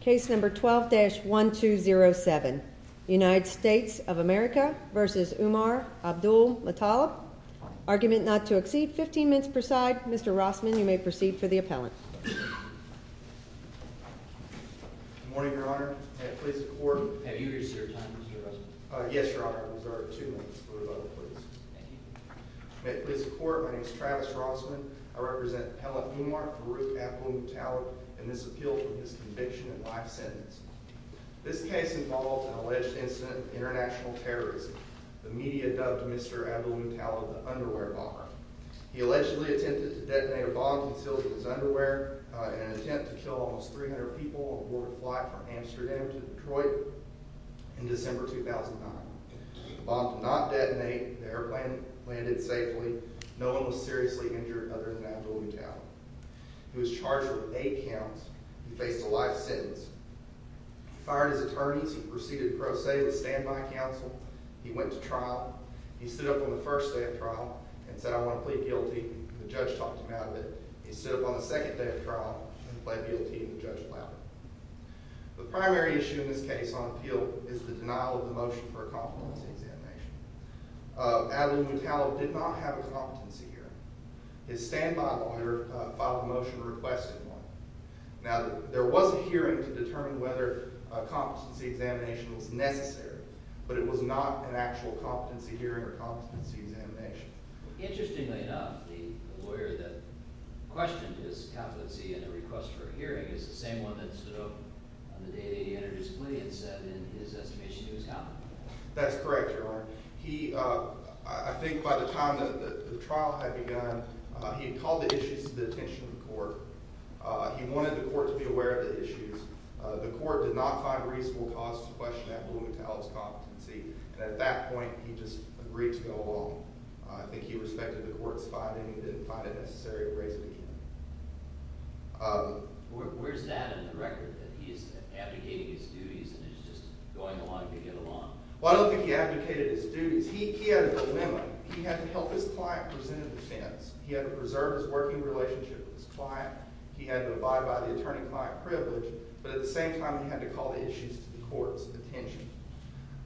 Case number 12-1207 United States of America v. Umar Abdulmutallab Argument not to exceed 15 minutes per side. Mr. Rossman, you may proceed for the appellant. Good morning, Your Honor. May it please the Court. Have you reached your time, Mr. Rossman? Yes, Your Honor. I've reserved two minutes. What about the police? May it please the Court. My name is Travis Rossman. I represent Pella Umar v. Abdulmutallab in this appeal for his conviction and life sentence. This case involved an alleged incident of international terrorism. The media dubbed Mr. Abdulmutallab the Underwear Bomber. He allegedly attempted to detonate a bomb concealed in his underwear in an attempt to kill almost 300 people aboard a flight from Amsterdam to Detroit in December 2009. The bomb did not detonate. The airplane landed safely. No one was seriously injured other than Abdulmutallab. He was charged with eight counts. He faced a life sentence. He fired his attorneys. He proceeded pro se with standby counsel. He went to trial. He stood up on the first day of trial and said, I want to plead guilty. The judge talked him out of it. He stood up on the second day of trial and pled guilty to Judge Plowman. The primary issue in this case on appeal is the denial of the motion for a competency examination. Abdulmutallab did not have a competency hearing. His standby lawyer filed a motion requesting one. Now, there was a hearing to determine whether a competency examination was necessary, but it was not an actual competency hearing or competency examination. Interestingly enough, the lawyer that questioned his competency in a request for a hearing is the same one that stood up on the day that he introduced the plea and said in his estimation he was competent. That's correct, Your Honor. I think by the time the trial had begun, he had called the issues to the attention of the court. He wanted the court to be aware of the issues. And at that point, he just agreed to go along. I think he respected the court's finding. He didn't find it necessary to raise it again. Well, I don't think he abdicated his duties. He had a dilemma. He had to help his client present a defense. He had to preserve his working relationship with his client. He had to abide by the attorney-client privilege. But at the same time, he had to call the issues to the court's attention.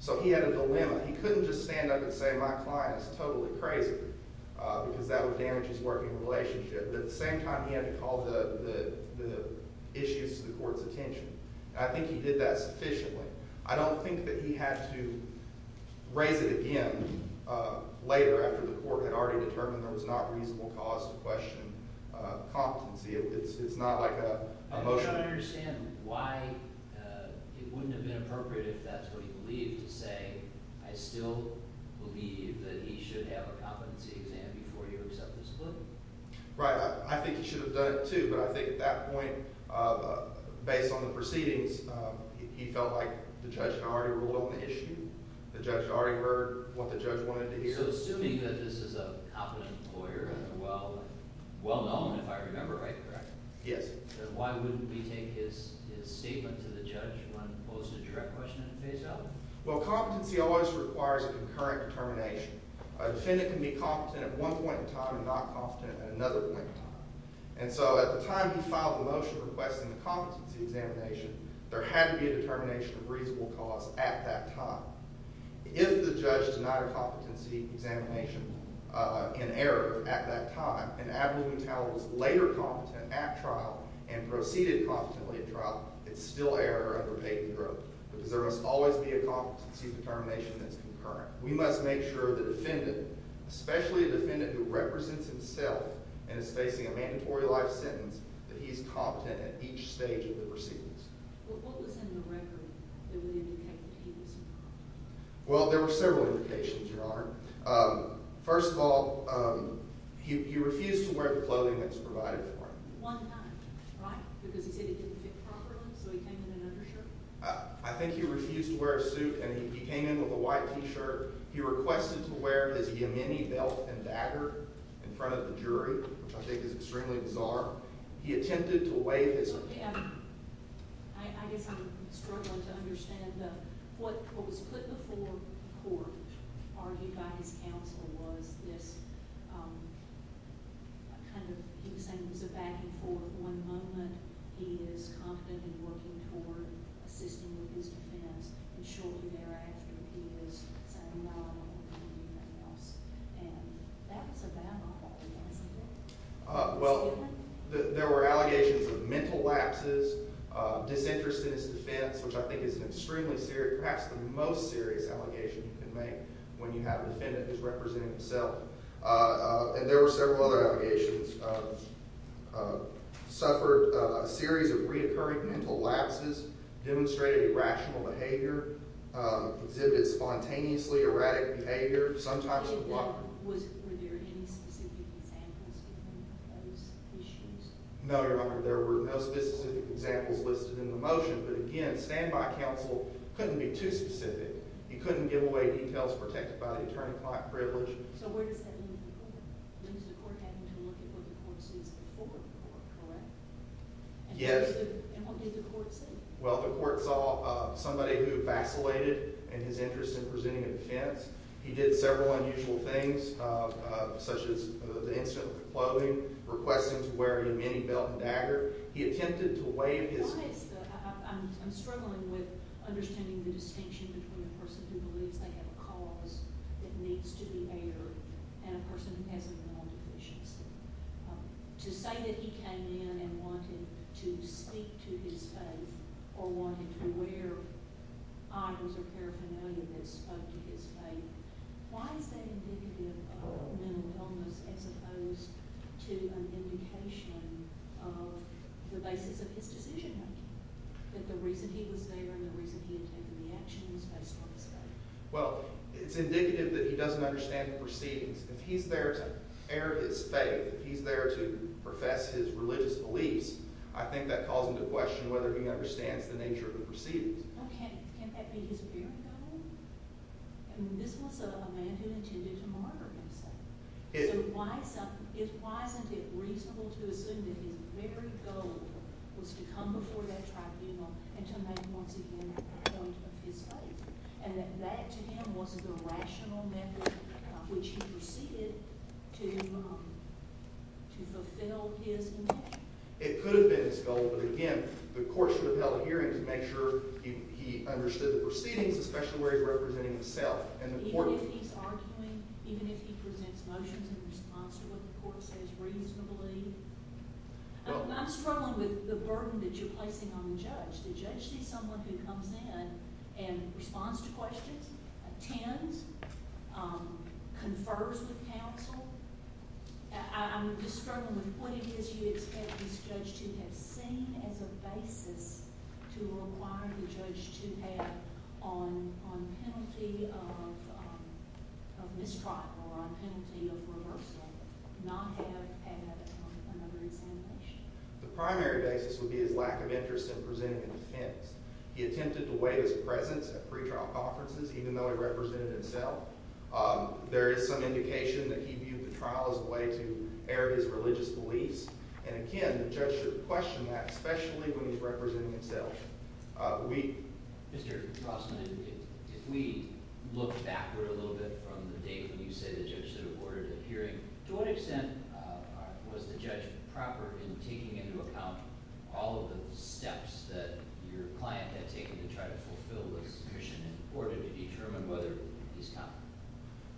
So he had a dilemma. He couldn't just stand up and say, my client is totally crazy, because that would damage his working relationship. But at the same time, he had to call the issues to the court's attention. And I think he did that sufficiently. I don't think that he had to raise it again later, after the court had already determined there was not a reasonable cause to question competency. It's not like a motion. I don't understand why it wouldn't have been appropriate, if that's what he believed, to say, I still believe that he should have a competency exam before he would accept this plea. Right. I think he should have done it, too. But I think at that point, based on the proceedings, he felt like the judge had already ruled on the issue. The judge had already heard what the judge wanted to hear. So assuming that this is a competent lawyer, well-known, if I remember right, correct? Yes. Then why wouldn't we take his statement to the judge when posed a direct question at the face of it? Well, competency always requires a concurrent determination. A defendant can be competent at one point in time and not competent at another point in time. And so at the time he filed the motion requesting the competency examination, there had to be a determination of reasonable cause at that time. If the judge denied a competency examination in error at that time, and Avalon Towers was later competent at trial and proceeded competently at trial, it's still error under Peyton Grove because there must always be a competency determination that's concurrent. We must make sure the defendant, especially a defendant who represents himself and is facing a mandatory life sentence, that he's competent at each stage of the proceedings. What was in the record that would indicate that he was competent? Well, there were several indications, Your Honor. First of all, he refused to wear the clothing that was provided for him. One night, right? Because he said it didn't fit properly, so he came in in undershirt? I think he refused to wear a suit, and he came in with a white T-shirt. He requested to wear his Yemeni belt and dagger in front of the jury, which I think is extremely bizarre. He attempted to wave his- I guess I'm struggling to understand. What was put before court, argued by his counsel, was this kind of- he was saying it was a back-and-forth one moment. He is competent in working toward assisting with his defense, and shortly thereafter, he is saying, well, I'm not going to do anything else. And that was a bad model, wasn't it? Well, there were allegations of mental lapses, disinterest in his defense, which I think is an extremely serious- perhaps the most serious allegation you can make when you have a defendant who is representing himself. And there were several other allegations of- suffered a series of reoccurring mental lapses, demonstrated irrational behavior, exhibited spontaneously erratic behavior, sometimes- Were there any specific examples of those issues? No, Your Honor. There were no specific examples listed in the motion. But again, standby counsel couldn't be too specific. He couldn't give away details protected by the attorney-client privilege. So where does that leave the court? It leaves the court having to look at what the court sees before the court, correct? Yes. And what did the court see? Well, the court saw somebody who vacillated in his interest in presenting a defense. He did several unusual things, such as the incident with the clothing, requesting to wear a mini belt and dagger. He attempted to wave his- Why is the- I'm struggling with understanding the distinction between a person who believes they have a cause that needs to be aired and a person who has a mental deficiency. To say that he came in and wanted to speak to his faith or wanted to wear items of paraphernalia that spoke to his faith, why is that indicative of mental illness as opposed to an indication of the basis of his decision? That the reason he was there and the reason he attempted the action was based on his faith. Well, it's indicative that he doesn't understand the proceedings. If he's there to air his faith, if he's there to profess his religious beliefs, I think that calls into question whether he understands the nature of the proceedings. Well, can't that be his very goal? I mean, this was a man who intended to murder himself. So why isn't it reasonable to assume that his very goal was to come before that tribunal and to make, once again, a point of his faith, and that that, to him, was the rational method of which he proceeded to fulfill his intention? It could have been his goal, but again, the court should have held hearings to make sure he understood the proceedings, especially where he was representing himself. Even if he's arguing, even if he presents motions in response to what the court says reasonably? I'm struggling with the burden that you're placing on the judge. The judge sees someone who comes in and responds to questions, attends, confers with counsel. I'm just struggling with what it is you expect this judge to have seen as a basis to require the judge to have, on penalty of mistrial or on penalty of reversal, not have had another examination. The primary basis would be his lack of interest in presenting a defense. He attempted to weigh his presence at pretrial conferences, even though he represented himself. There is some indication that he viewed the trial as a way to air his religious beliefs, and again, the judge should question that, especially when he's representing himself. Mr. Crossman, if we look backward a little bit from the date when you say the judge should have ordered a hearing, to what extent was the judge proper in taking into account all of the steps that your client had taken to try to fulfill this mission in order to determine whether he's competent?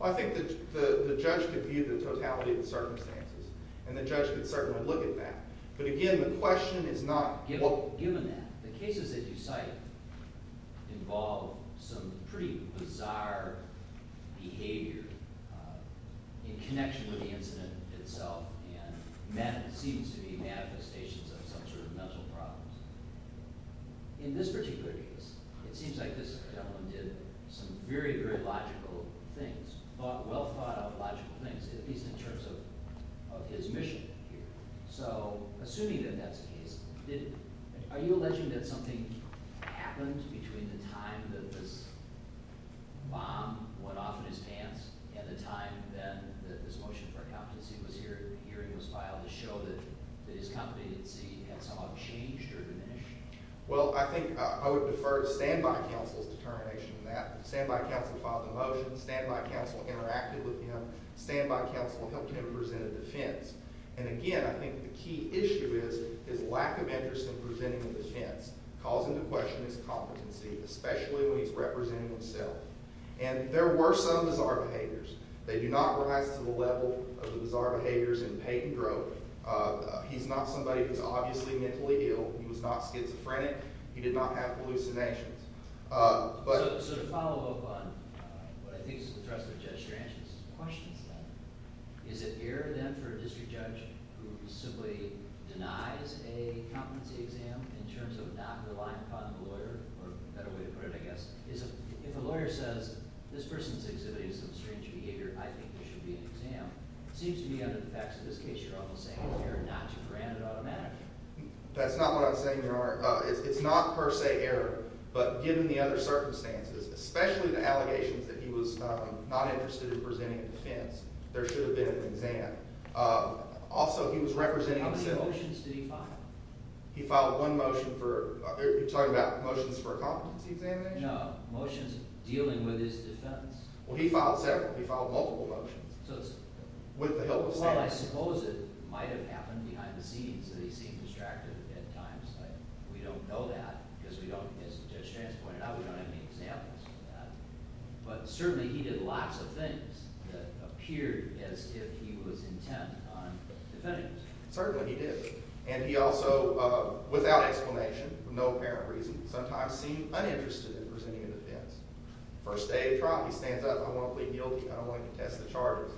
I think the judge could view the totality of the circumstances, and the judge could certainly look at that. But again, the question is not... Given that, the cases that you cite involve some pretty bizarre behavior in connection with the incident itself, and that seems to be manifestations of some sort of mental problems. In this particular case, it seems like this gentleman did some very, very logical things, well-thought-out logical things, at least in terms of his mission here. So, assuming that that's the case, are you alleging that something happened between the time that this bomb went off in his pants and the time then that this motion for a competency hearing was filed to show that his competency had somehow changed or diminished? Well, I think I would defer to standby counsel's determination on that. Standby counsel filed the motion. Standby counsel interacted with him. Standby counsel helped him present a defense. And again, I think the key issue is his lack of interest in presenting a defense, causing to question his competency, especially when he's representing himself. And there were some bizarre behaviors. They do not rise to the level of the bizarre behaviors in Peyton Grove. He's not somebody who's obviously mentally ill. He was not schizophrenic. He did not have hallucinations. So to follow up on what I think is the threat of a judge's questions, is it fair then for a district judge who simply denies a competency exam in terms of not relying upon the lawyer, or a better way to put it, I guess, is if a lawyer says this person's exhibit is some strange behavior, I think there should be an exam. It seems to me, under the facts of this case, you're almost saying it's fair not to grant it automatically. That's not what I'm saying, Your Honor. It's not per se error, but given the other circumstances, especially the allegations that he was not interested in presenting a defense, there should have been an exam. Also, he was representing himself. How many motions did he file? He filed one motion for – you're talking about motions for a competency examination? No, motions dealing with his defense. Well, he filed several. He filed multiple motions with the help of standards. Well, I suppose it might have happened behind the scenes that he seemed distracted at times. We don't know that because, as Judge Strantz pointed out, we don't have any examples of that. But certainly he did lots of things that appeared as if he was intent on defending himself. Certainly he did. And he also, without explanation, for no apparent reason, sometimes seemed uninterested in presenting a defense. First day of trial, he stands up. I want to plead guilty. I don't want to contest the charges.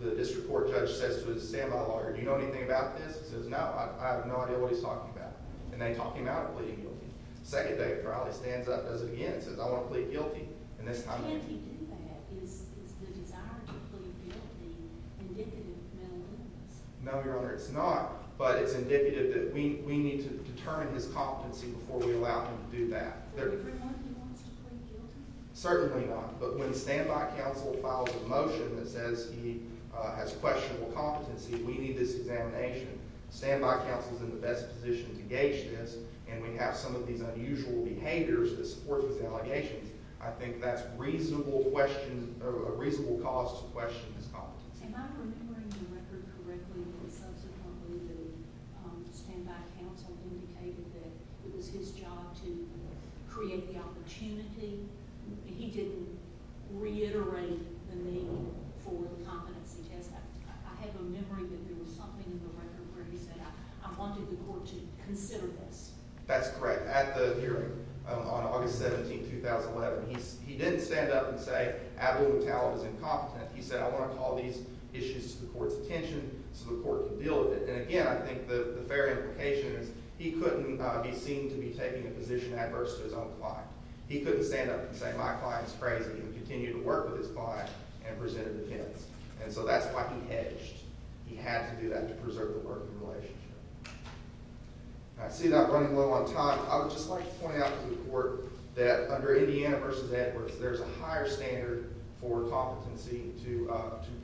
The district court judge says to his standby lawyer, do you know anything about this? He says, no, I have no idea what he's talking about. And they talk him out of pleading guilty. Second day of trial, he stands up, does it again, says, I want to plead guilty. Can't he do that? Is the desire to plead guilty indicative of malignancy? No, Your Honor, it's not. But it's indicative that we need to determine his competency before we allow him to do that. Do you agree more that he wants to plead guilty? Certainly not. But when the standby counsel files a motion that says he has questionable competency, we need this examination. The standby counsel is in the best position to gauge this, and we have some of these unusual behaviors that support those allegations. I think that's a reasonable cause to question his competency. Am I remembering the record correctly that subsequently the standby counsel indicated that it was his job to create the opportunity? He didn't reiterate the need for the competency test. I have a memory that there was something in the record where he said, I wanted the court to consider this. That's correct. At the hearing on August 17, 2011, he didn't stand up and say, He said, I want to call these issues to the court's attention so the court can deal with it. And again, I think the fair implication is he couldn't be seen to be taking a position adverse to his own client. He couldn't stand up and say, my client is crazy, and continue to work with his client and present a defense. And so that's why he edged. He had to do that to preserve the working relationship. I see that running low on time. I would just like to point out to the court that under Indiana v. Edwards, there's a higher standard for competency to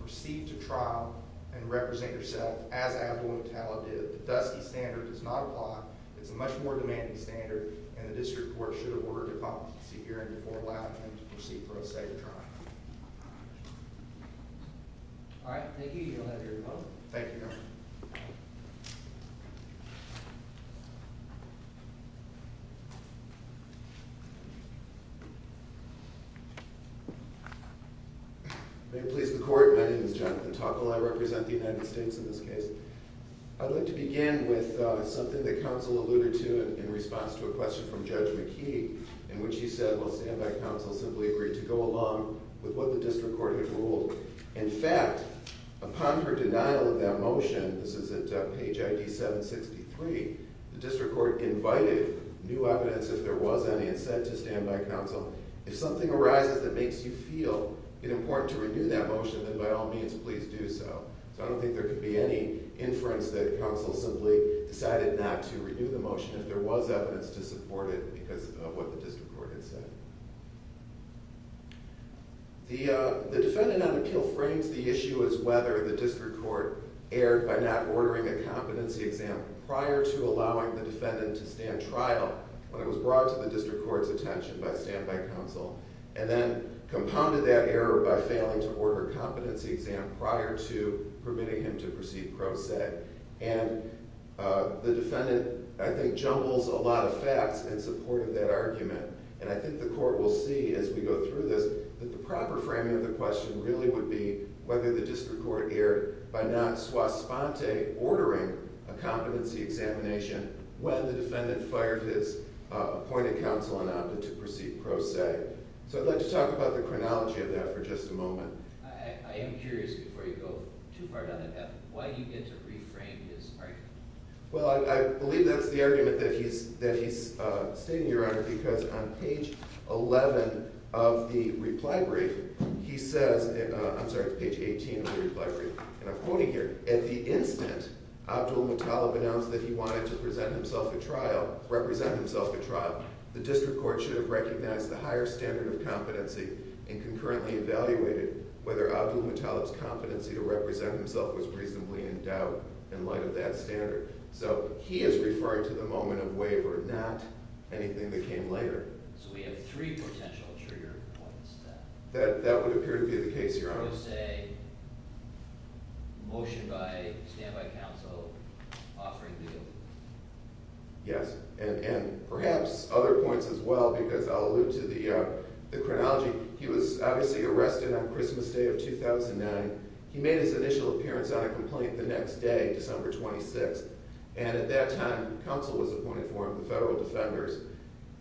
proceed to trial and represent yourself as able and talented. The Dusty standard does not apply. It's a much more demanding standard, and the district court should award the competency hearing before allowing him to proceed for a state of trial. All right, thank you. Thank you, Your Honor. May it please the court, my name is Jonathan Tockel. I represent the United States in this case. I'd like to begin with something that counsel alluded to in response to a question from Judge McKee, in which he said, well, standby counsel simply agreed to go along with what the district court had ruled. In fact, upon her denial of that motion, this is at page ID 763, the district court invited new evidence, if there was any, and said to standby counsel, if something arises that makes you feel it important to renew that motion, then by all means, please do so. So I don't think there could be any inference that counsel simply decided not to renew the motion if there was evidence to support it because of what the district court had said. The defendant on appeal frames the issue as whether the district court erred by not ordering a competency example prior to allowing the defendant to stand trial when it was brought to the district court's attention by standby counsel, and then compounded that error by failing to order a competency exam prior to permitting him to proceed pro se. And the defendant, I think, jumbles a lot of facts in support of that argument. And I think the court will see as we go through this that the proper framing of the question really would be whether the district court erred by not sua sponte ordering a competency examination when the defendant fired his appointed counsel and opted to proceed pro se. So I'd like to talk about the chronology of that for just a moment. I am curious, before you go too far down that path, why do you get to reframe his argument? Well, I believe that's the argument that he's stating, Your Honor, because on page 11 of the reply brief, he says, I'm sorry, it's page 18 of the reply brief, and I'm quoting here, at the instant Abdulmutallab announced that he wanted to present himself at trial, represent himself at trial, the district court should have recognized the higher standard of competency and concurrently evaluated whether Abdulmutallab's competency to represent himself was reasonably in doubt in light of that standard. So he is referring to the moment of waiver, not anything that came later. So we have three potential trigger points then. That would appear to be the case, Your Honor. I'm going to say motion by standby counsel offering legal. Yes, and perhaps other points as well, because I'll allude to the chronology. He was obviously arrested on Christmas Day of 2009. He made his initial appearance on a complaint the next day, December 26th, and at that time, counsel was appointed for him, the federal defenders.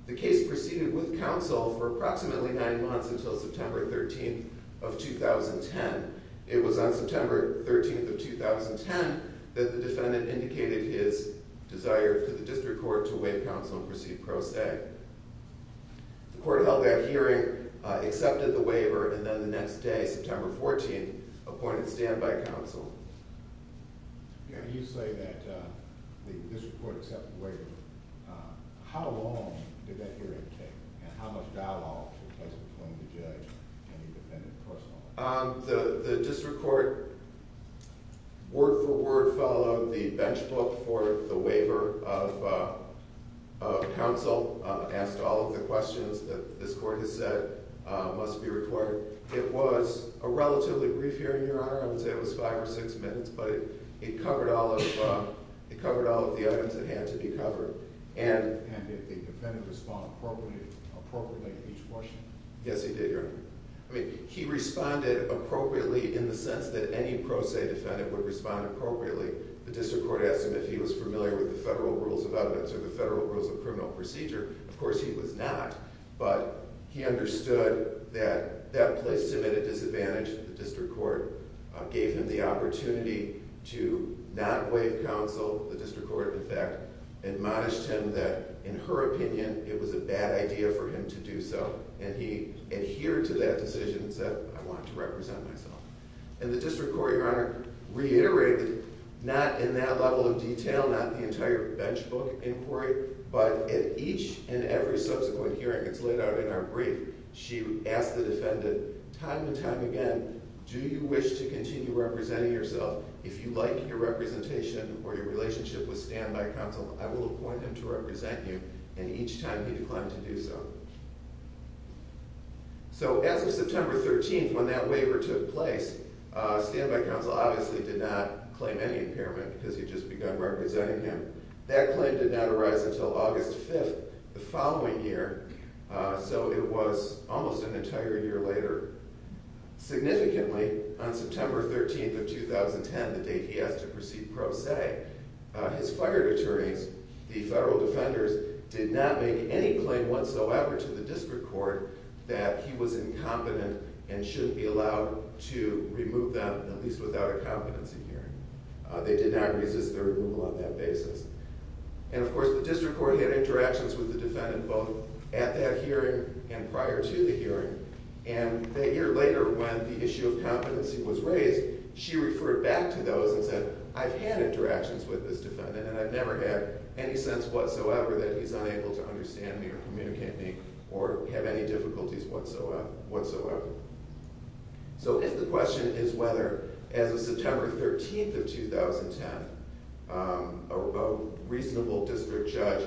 The case proceeded with counsel for approximately nine months until September 13th of 2010. It was on September 13th of 2010 that the defendant indicated his desire for the district court to waive counsel and proceed pro se. The court held that hearing, accepted the waiver, and then the next day, September 14th, appointed standby counsel. You say that the district court accepted the waiver. How long did that hearing take, and how much dialogue took place between the judge and the defendant personally? The district court word for word followed the bench book for the waiver of counsel, asked all of the questions that this court has said must be recorded. It was a relatively brief hearing, Your Honor. I would say it was five or six minutes, but it covered all of the items that had to be covered. And did the defendant respond appropriately to each question? Yes, he did, Your Honor. He responded appropriately in the sense that any pro se defendant would respond appropriately. The district court asked him if he was familiar with the federal rules of evidence or the federal rules of criminal procedure. Of course, he was not, but he understood that that placed him at a disadvantage. The district court gave him the opportunity to not waive counsel. The district court, in fact, admonished him that, in her opinion, it was a bad idea for him to do so. And he adhered to that decision and said, I want to represent myself. And the district court, Your Honor, reiterated, not in that level of detail, not the entire bench book inquiry, but at each and every subsequent hearing that's laid out in our brief, she asked the defendant time and time again, do you wish to continue representing yourself? If you like your representation or your relationship with standby counsel, I will appoint him to represent you. And each time he declined to do so. So as of September 13th, when that waiver took place, standby counsel obviously did not claim any impairment because he had just begun representing him. That claim did not arise until August 5th the following year. So it was almost an entire year later. Significantly, on September 13th of 2010, the date he asked to proceed pro se, his fire attorneys, the federal defenders, did not make any claim whatsoever to the district court that he was incompetent and shouldn't be allowed to remove them, at least without a competency hearing. They did not resist their removal on that basis. And of course the district court had interactions with the defendant both at that hearing and prior to the hearing. And a year later when the issue of competency was raised, she referred back to those and said, I've had interactions with this defendant and I've never had any sense whatsoever that he's unable to understand me or communicate me or have any difficulties whatsoever. So if the question is whether, as of September 13th of 2010, a reasonable district judge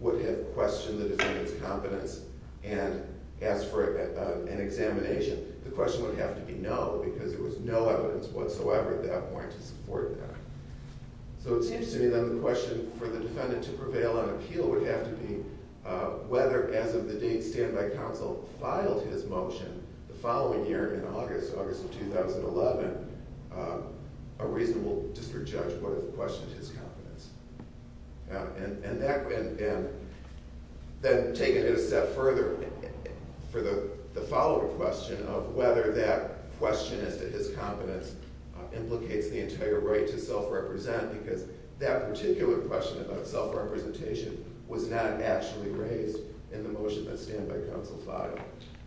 would have questioned the defendant's competence and asked for an examination, the question would have to be no because there was no evidence whatsoever at that point to support that. So it seems to me then the question for the defendant to prevail on appeal would have to be whether, as of the date standby counsel filed his motion the following year in August, August of 2011, a reasonable district judge would have questioned his competence. And then taking it a step further for the follow-up question of whether that question as to his competence implicates the entire right to self-represent because that particular question about self-representation was not actually raised in the motion that standby counsel filed.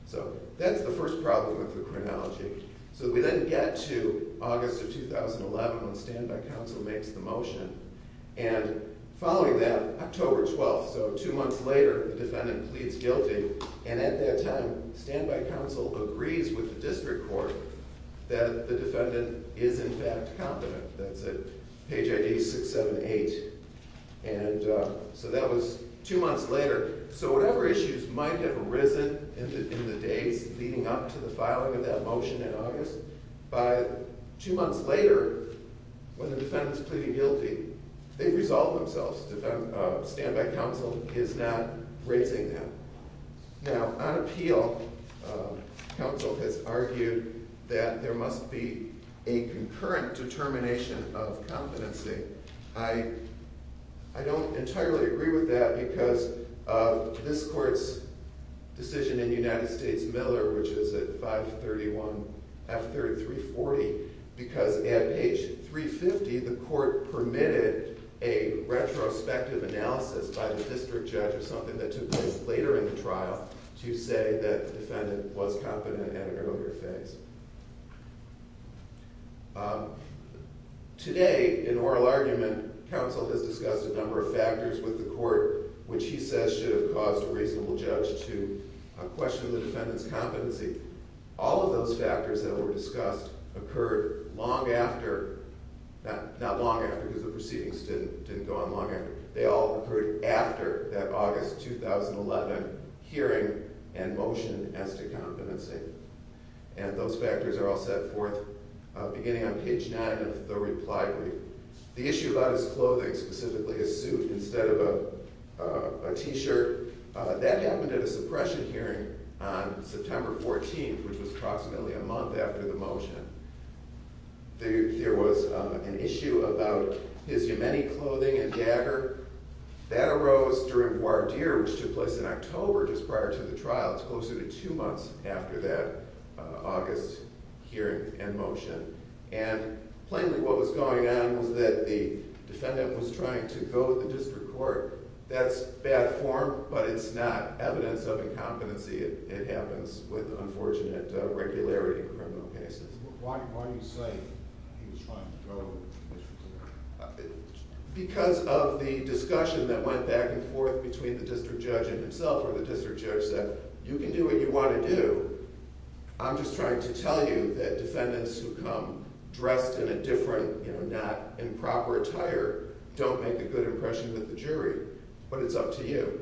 So that's the first problem with the chronology. So we then get to August of 2011 when standby counsel makes the motion. And following that, October 12th, so two months later, the defendant pleads guilty. And at that time, standby counsel agrees with the district court that the defendant is in fact competent. That's at page ID 678. And so that was two months later. So whatever issues might have arisen in the days leading up to the filing of that motion in August, by two months later when the defendant's pleading guilty, they've resolved themselves. Standby counsel is not raising them. Now, on appeal, counsel has argued that there must be a concurrent determination of competency. I don't entirely agree with that because of this court's decision in United States Miller, which is at 531F3340, because at page 350, the court permitted a retrospective analysis by the district judge or something that took place later in the trial to say that the defendant was competent at an earlier phase. Today, in oral argument, counsel has discussed a number of factors with the court, which he says should have caused a reasonable judge to question the defendant's competency. All of those factors that were discussed occurred long after, not long after because the proceedings didn't go on long after, they all occurred after that August 2011 hearing and motion as to competency. And those factors are all set forth beginning on page 9 of the reply brief. The issue about his clothing, specifically his suit, instead of a t-shirt, that happened at a suppression hearing on September 14th, which was approximately a month after the motion. There was an issue about his Yemeni clothing and jagger. That arose during voir dire, which took place in October, just prior to the trial. It's closer to two months after that August hearing and motion. And plainly what was going on was that the defendant was trying to go to the district court. That's bad form, but it's not evidence of incompetency. It happens with unfortunate regularity in criminal cases. Why do you say he was trying to go to the district court? Because of the discussion that went back and forth between the district judge and himself, where the district judge said, you can do what you want to do, I'm just trying to tell you that defendants who come dressed in a different, not improper attire, don't make a good impression with the jury, but it's up to you.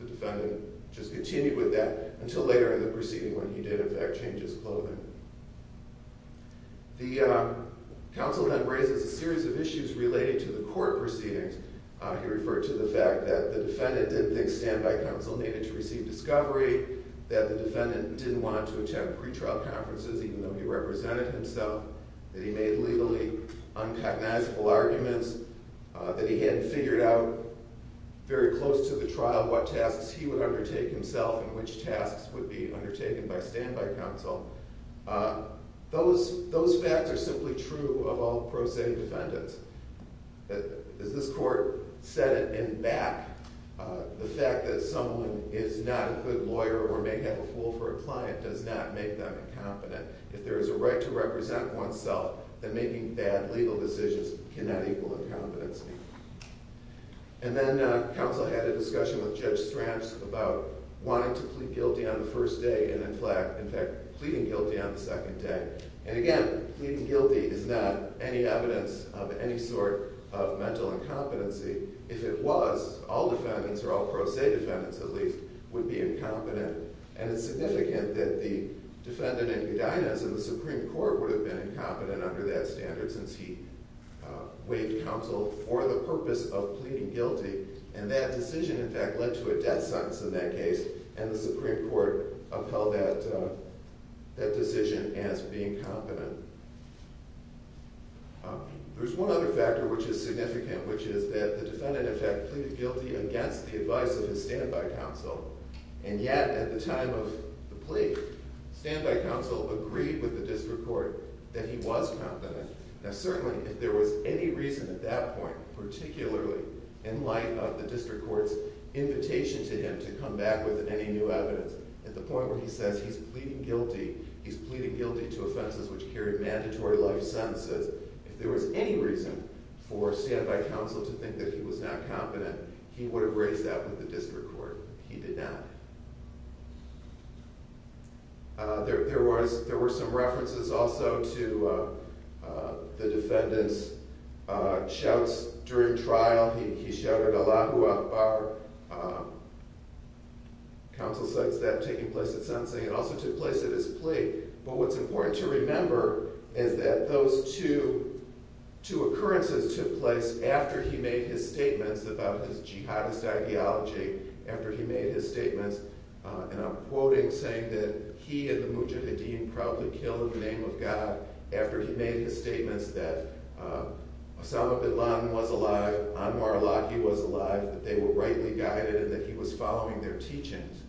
The defendant just continued with that until later in the proceeding when he did in fact change his clothing. The counsel then raises a series of issues related to the court proceedings. He referred to the fact that the defendant didn't think standby counsel needed to receive discovery, that the defendant didn't want to attend pretrial conferences even though he represented himself, that he made legally unrecognizable arguments, that he hadn't figured out very close to the trial what tasks he would undertake himself and which tasks would be undertaken by standby counsel. Those facts are simply true of all pro se defendants. As this court said in back, the fact that someone is not a good lawyer or may have a fool for a client does not make them incompetent. If there is a right to represent oneself, then making bad legal decisions cannot equal incompetency. And then counsel had a discussion with Judge Stranch about wanting to plead guilty on the first day and in fact pleading guilty on the second day. And again, pleading guilty is not any evidence of any sort of mental incompetency. If it was, all defendants, or all pro se defendants at least, would be incompetent. And it's significant that the defendant at Udinas in the Supreme Court would have been incompetent under that standard since he waived counsel for the purpose of pleading guilty and that decision in fact led to a death sentence in that case and the Supreme Court upheld that decision as being competent. There's one other factor which is significant, which is that the defendant in fact pleaded guilty against the advice of his standby counsel and yet at the time of the plea, standby counsel agreed with the district court that he was competent. Now certainly if there was any reason at that point, particularly in light of the district court's invitation to him to come back with any new evidence at the point where he says he's pleading guilty, he's pleading guilty to offenses which carry mandatory life sentences, if there was any reason for standby counsel to think that he was not competent, he would have raised that with the district court. He did not. There were some references also to the defendant's shouts during trial. He shouted Allahu Akbar. Counsel cites that taking place at sentencing and also took place at his plea. But what's important to remember is that those two occurrences took place after he made his statements about his jihadist ideology after he made his statements, and I'm quoting, saying that he and the Mujahideen proudly killed in the name of God after he made his statements that Osama bin Laden was alive, Anwar al-Awlaki was alive, that they were rightly guided, and that he was following their teachings.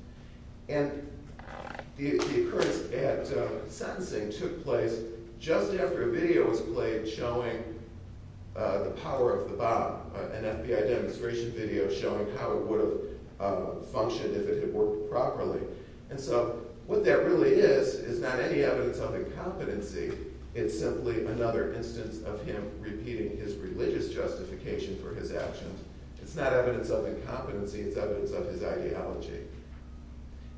And the occurrence at sentencing took place just after a video was played showing the power of the Bab, an FBI demonstration video showing how it would have functioned if it had worked properly. And so what that really is is not any evidence of incompetency, it's simply another instance of him repeating his religious justification for his actions. It's not evidence of incompetency, it's evidence of his ideology.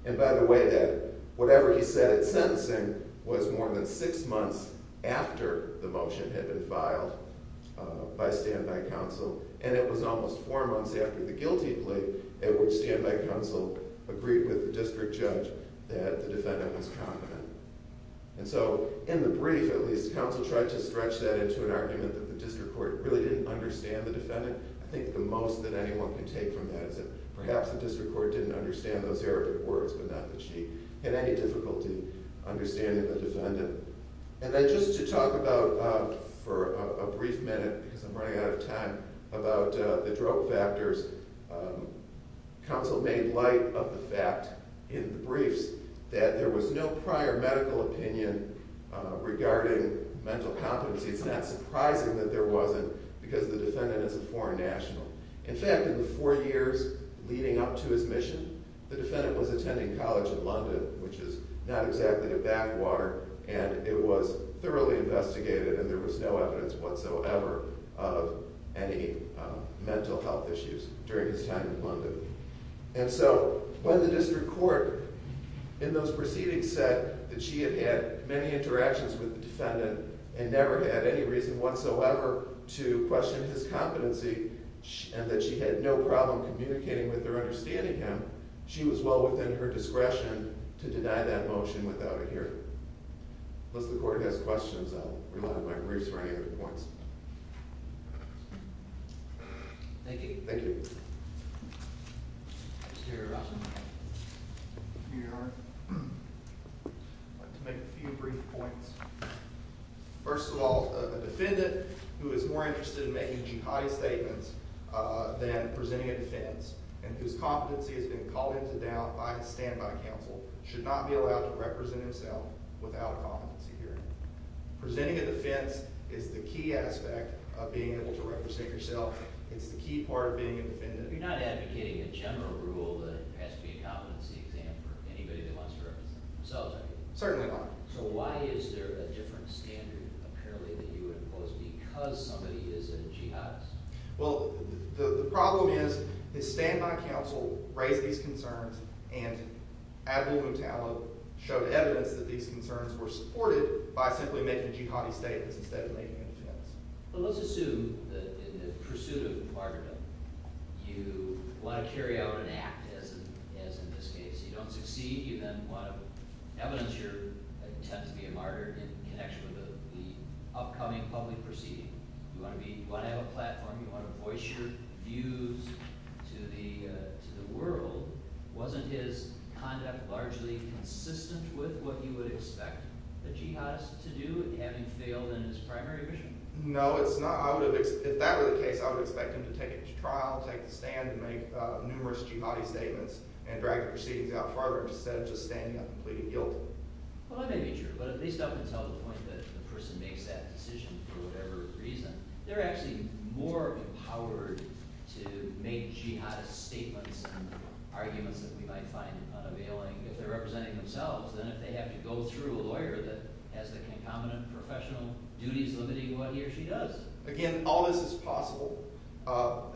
And by the way, that whatever he said at sentencing was more than six months after the motion had been filed by standby counsel, and it was almost four months after the guilty plea at which standby counsel agreed with the district judge that the defendant was confident. And so in the brief, at least, counsel tried to stretch that into an argument that the district court really didn't understand the defendant. I think the most that anyone can take from that is that perhaps the district court didn't understand those erratic words, but not that she had any difficulty understanding the defendant. And then just to talk about, for a brief minute, because I'm running out of time, about the drug factors, counsel made light of the fact in the briefs that there was no prior medical opinion regarding mental competency. It's not surprising that there wasn't, because the defendant is a foreign national. In fact, in the four years leading up to his mission, the defendant was attending college in London, which is not exactly a backwater, and it was thoroughly investigated, and there was no evidence whatsoever of any mental health issues during his time in London. And so when the district court in those proceedings said that she had had many interactions with the defendant and never had any reason whatsoever to question his competency and that she had no problem communicating with or understanding him, she was well within her discretion to deny that motion without a hearing. Unless the court has questions, I'll remind my briefs for any other points. Thank you. Thank you. I'd like to make a few brief points. First of all, a defendant who is more interested in making jihadi statements than presenting a defense and whose competency has been called into doubt by a standby counsel should not be allowed to represent himself without a competency hearing. Presenting a defense is the key aspect of being able to represent yourself. It's the key part of being a defendant. You're not advocating a general rule that it has to be a competency exam for anybody that wants to represent themselves, are you? Certainly not. So why is there a different standard, apparently, that you impose because somebody is a jihadist? And Admiral Motallo showed evidence that these concerns were supported by simply making jihadi statements instead of making a defense. But let's assume that in the pursuit of martyrdom, you want to carry out an act, as in this case. You don't succeed. You then want to evidence your attempt to be a martyr in connection with the upcoming public proceeding. You want to have a platform. You want to voice your views to the world. Wasn't his conduct largely consistent with what you would expect a jihadist to do, having failed in his primary mission? No, it's not. If that were the case, I would expect him to take each trial, take the stand, and make numerous jihadi statements and drag the proceedings out farther instead of just standing up and pleading guilt. Well, I may be true, but at least I would tell the point that the person makes that decision for whatever reason. They're actually more empowered to make jihadist statements and arguments that we might find unavailing if they're representing themselves than if they have to go through a lawyer that has the concomitant professional duties limiting what he or she does. Again, all this is possible.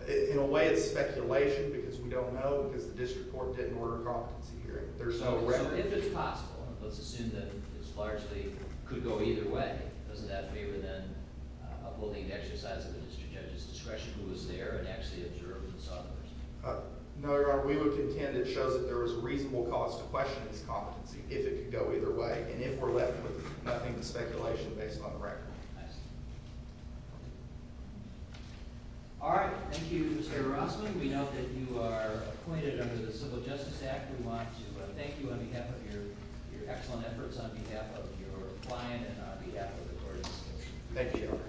In a way, it's speculation because we don't know because the district court didn't order a competency hearing. So if it's possible, let's assume that this largely could go either way, doesn't that favor then upholding the exercise of the district judge's discretion who was there and actually observed and saw the person? No, Your Honor. We would contend it shows that there was a reasonable cause to question his competency if it could go either way and if we're left with nothing but speculation based on the record. I see. All right. Thank you, Mr. Rossman. We know that you are appointed under the Civil Justice Act. We want to thank you on behalf of your excellent efforts, on behalf of your client, and on behalf of the court and the district. Thank you, Your Honor.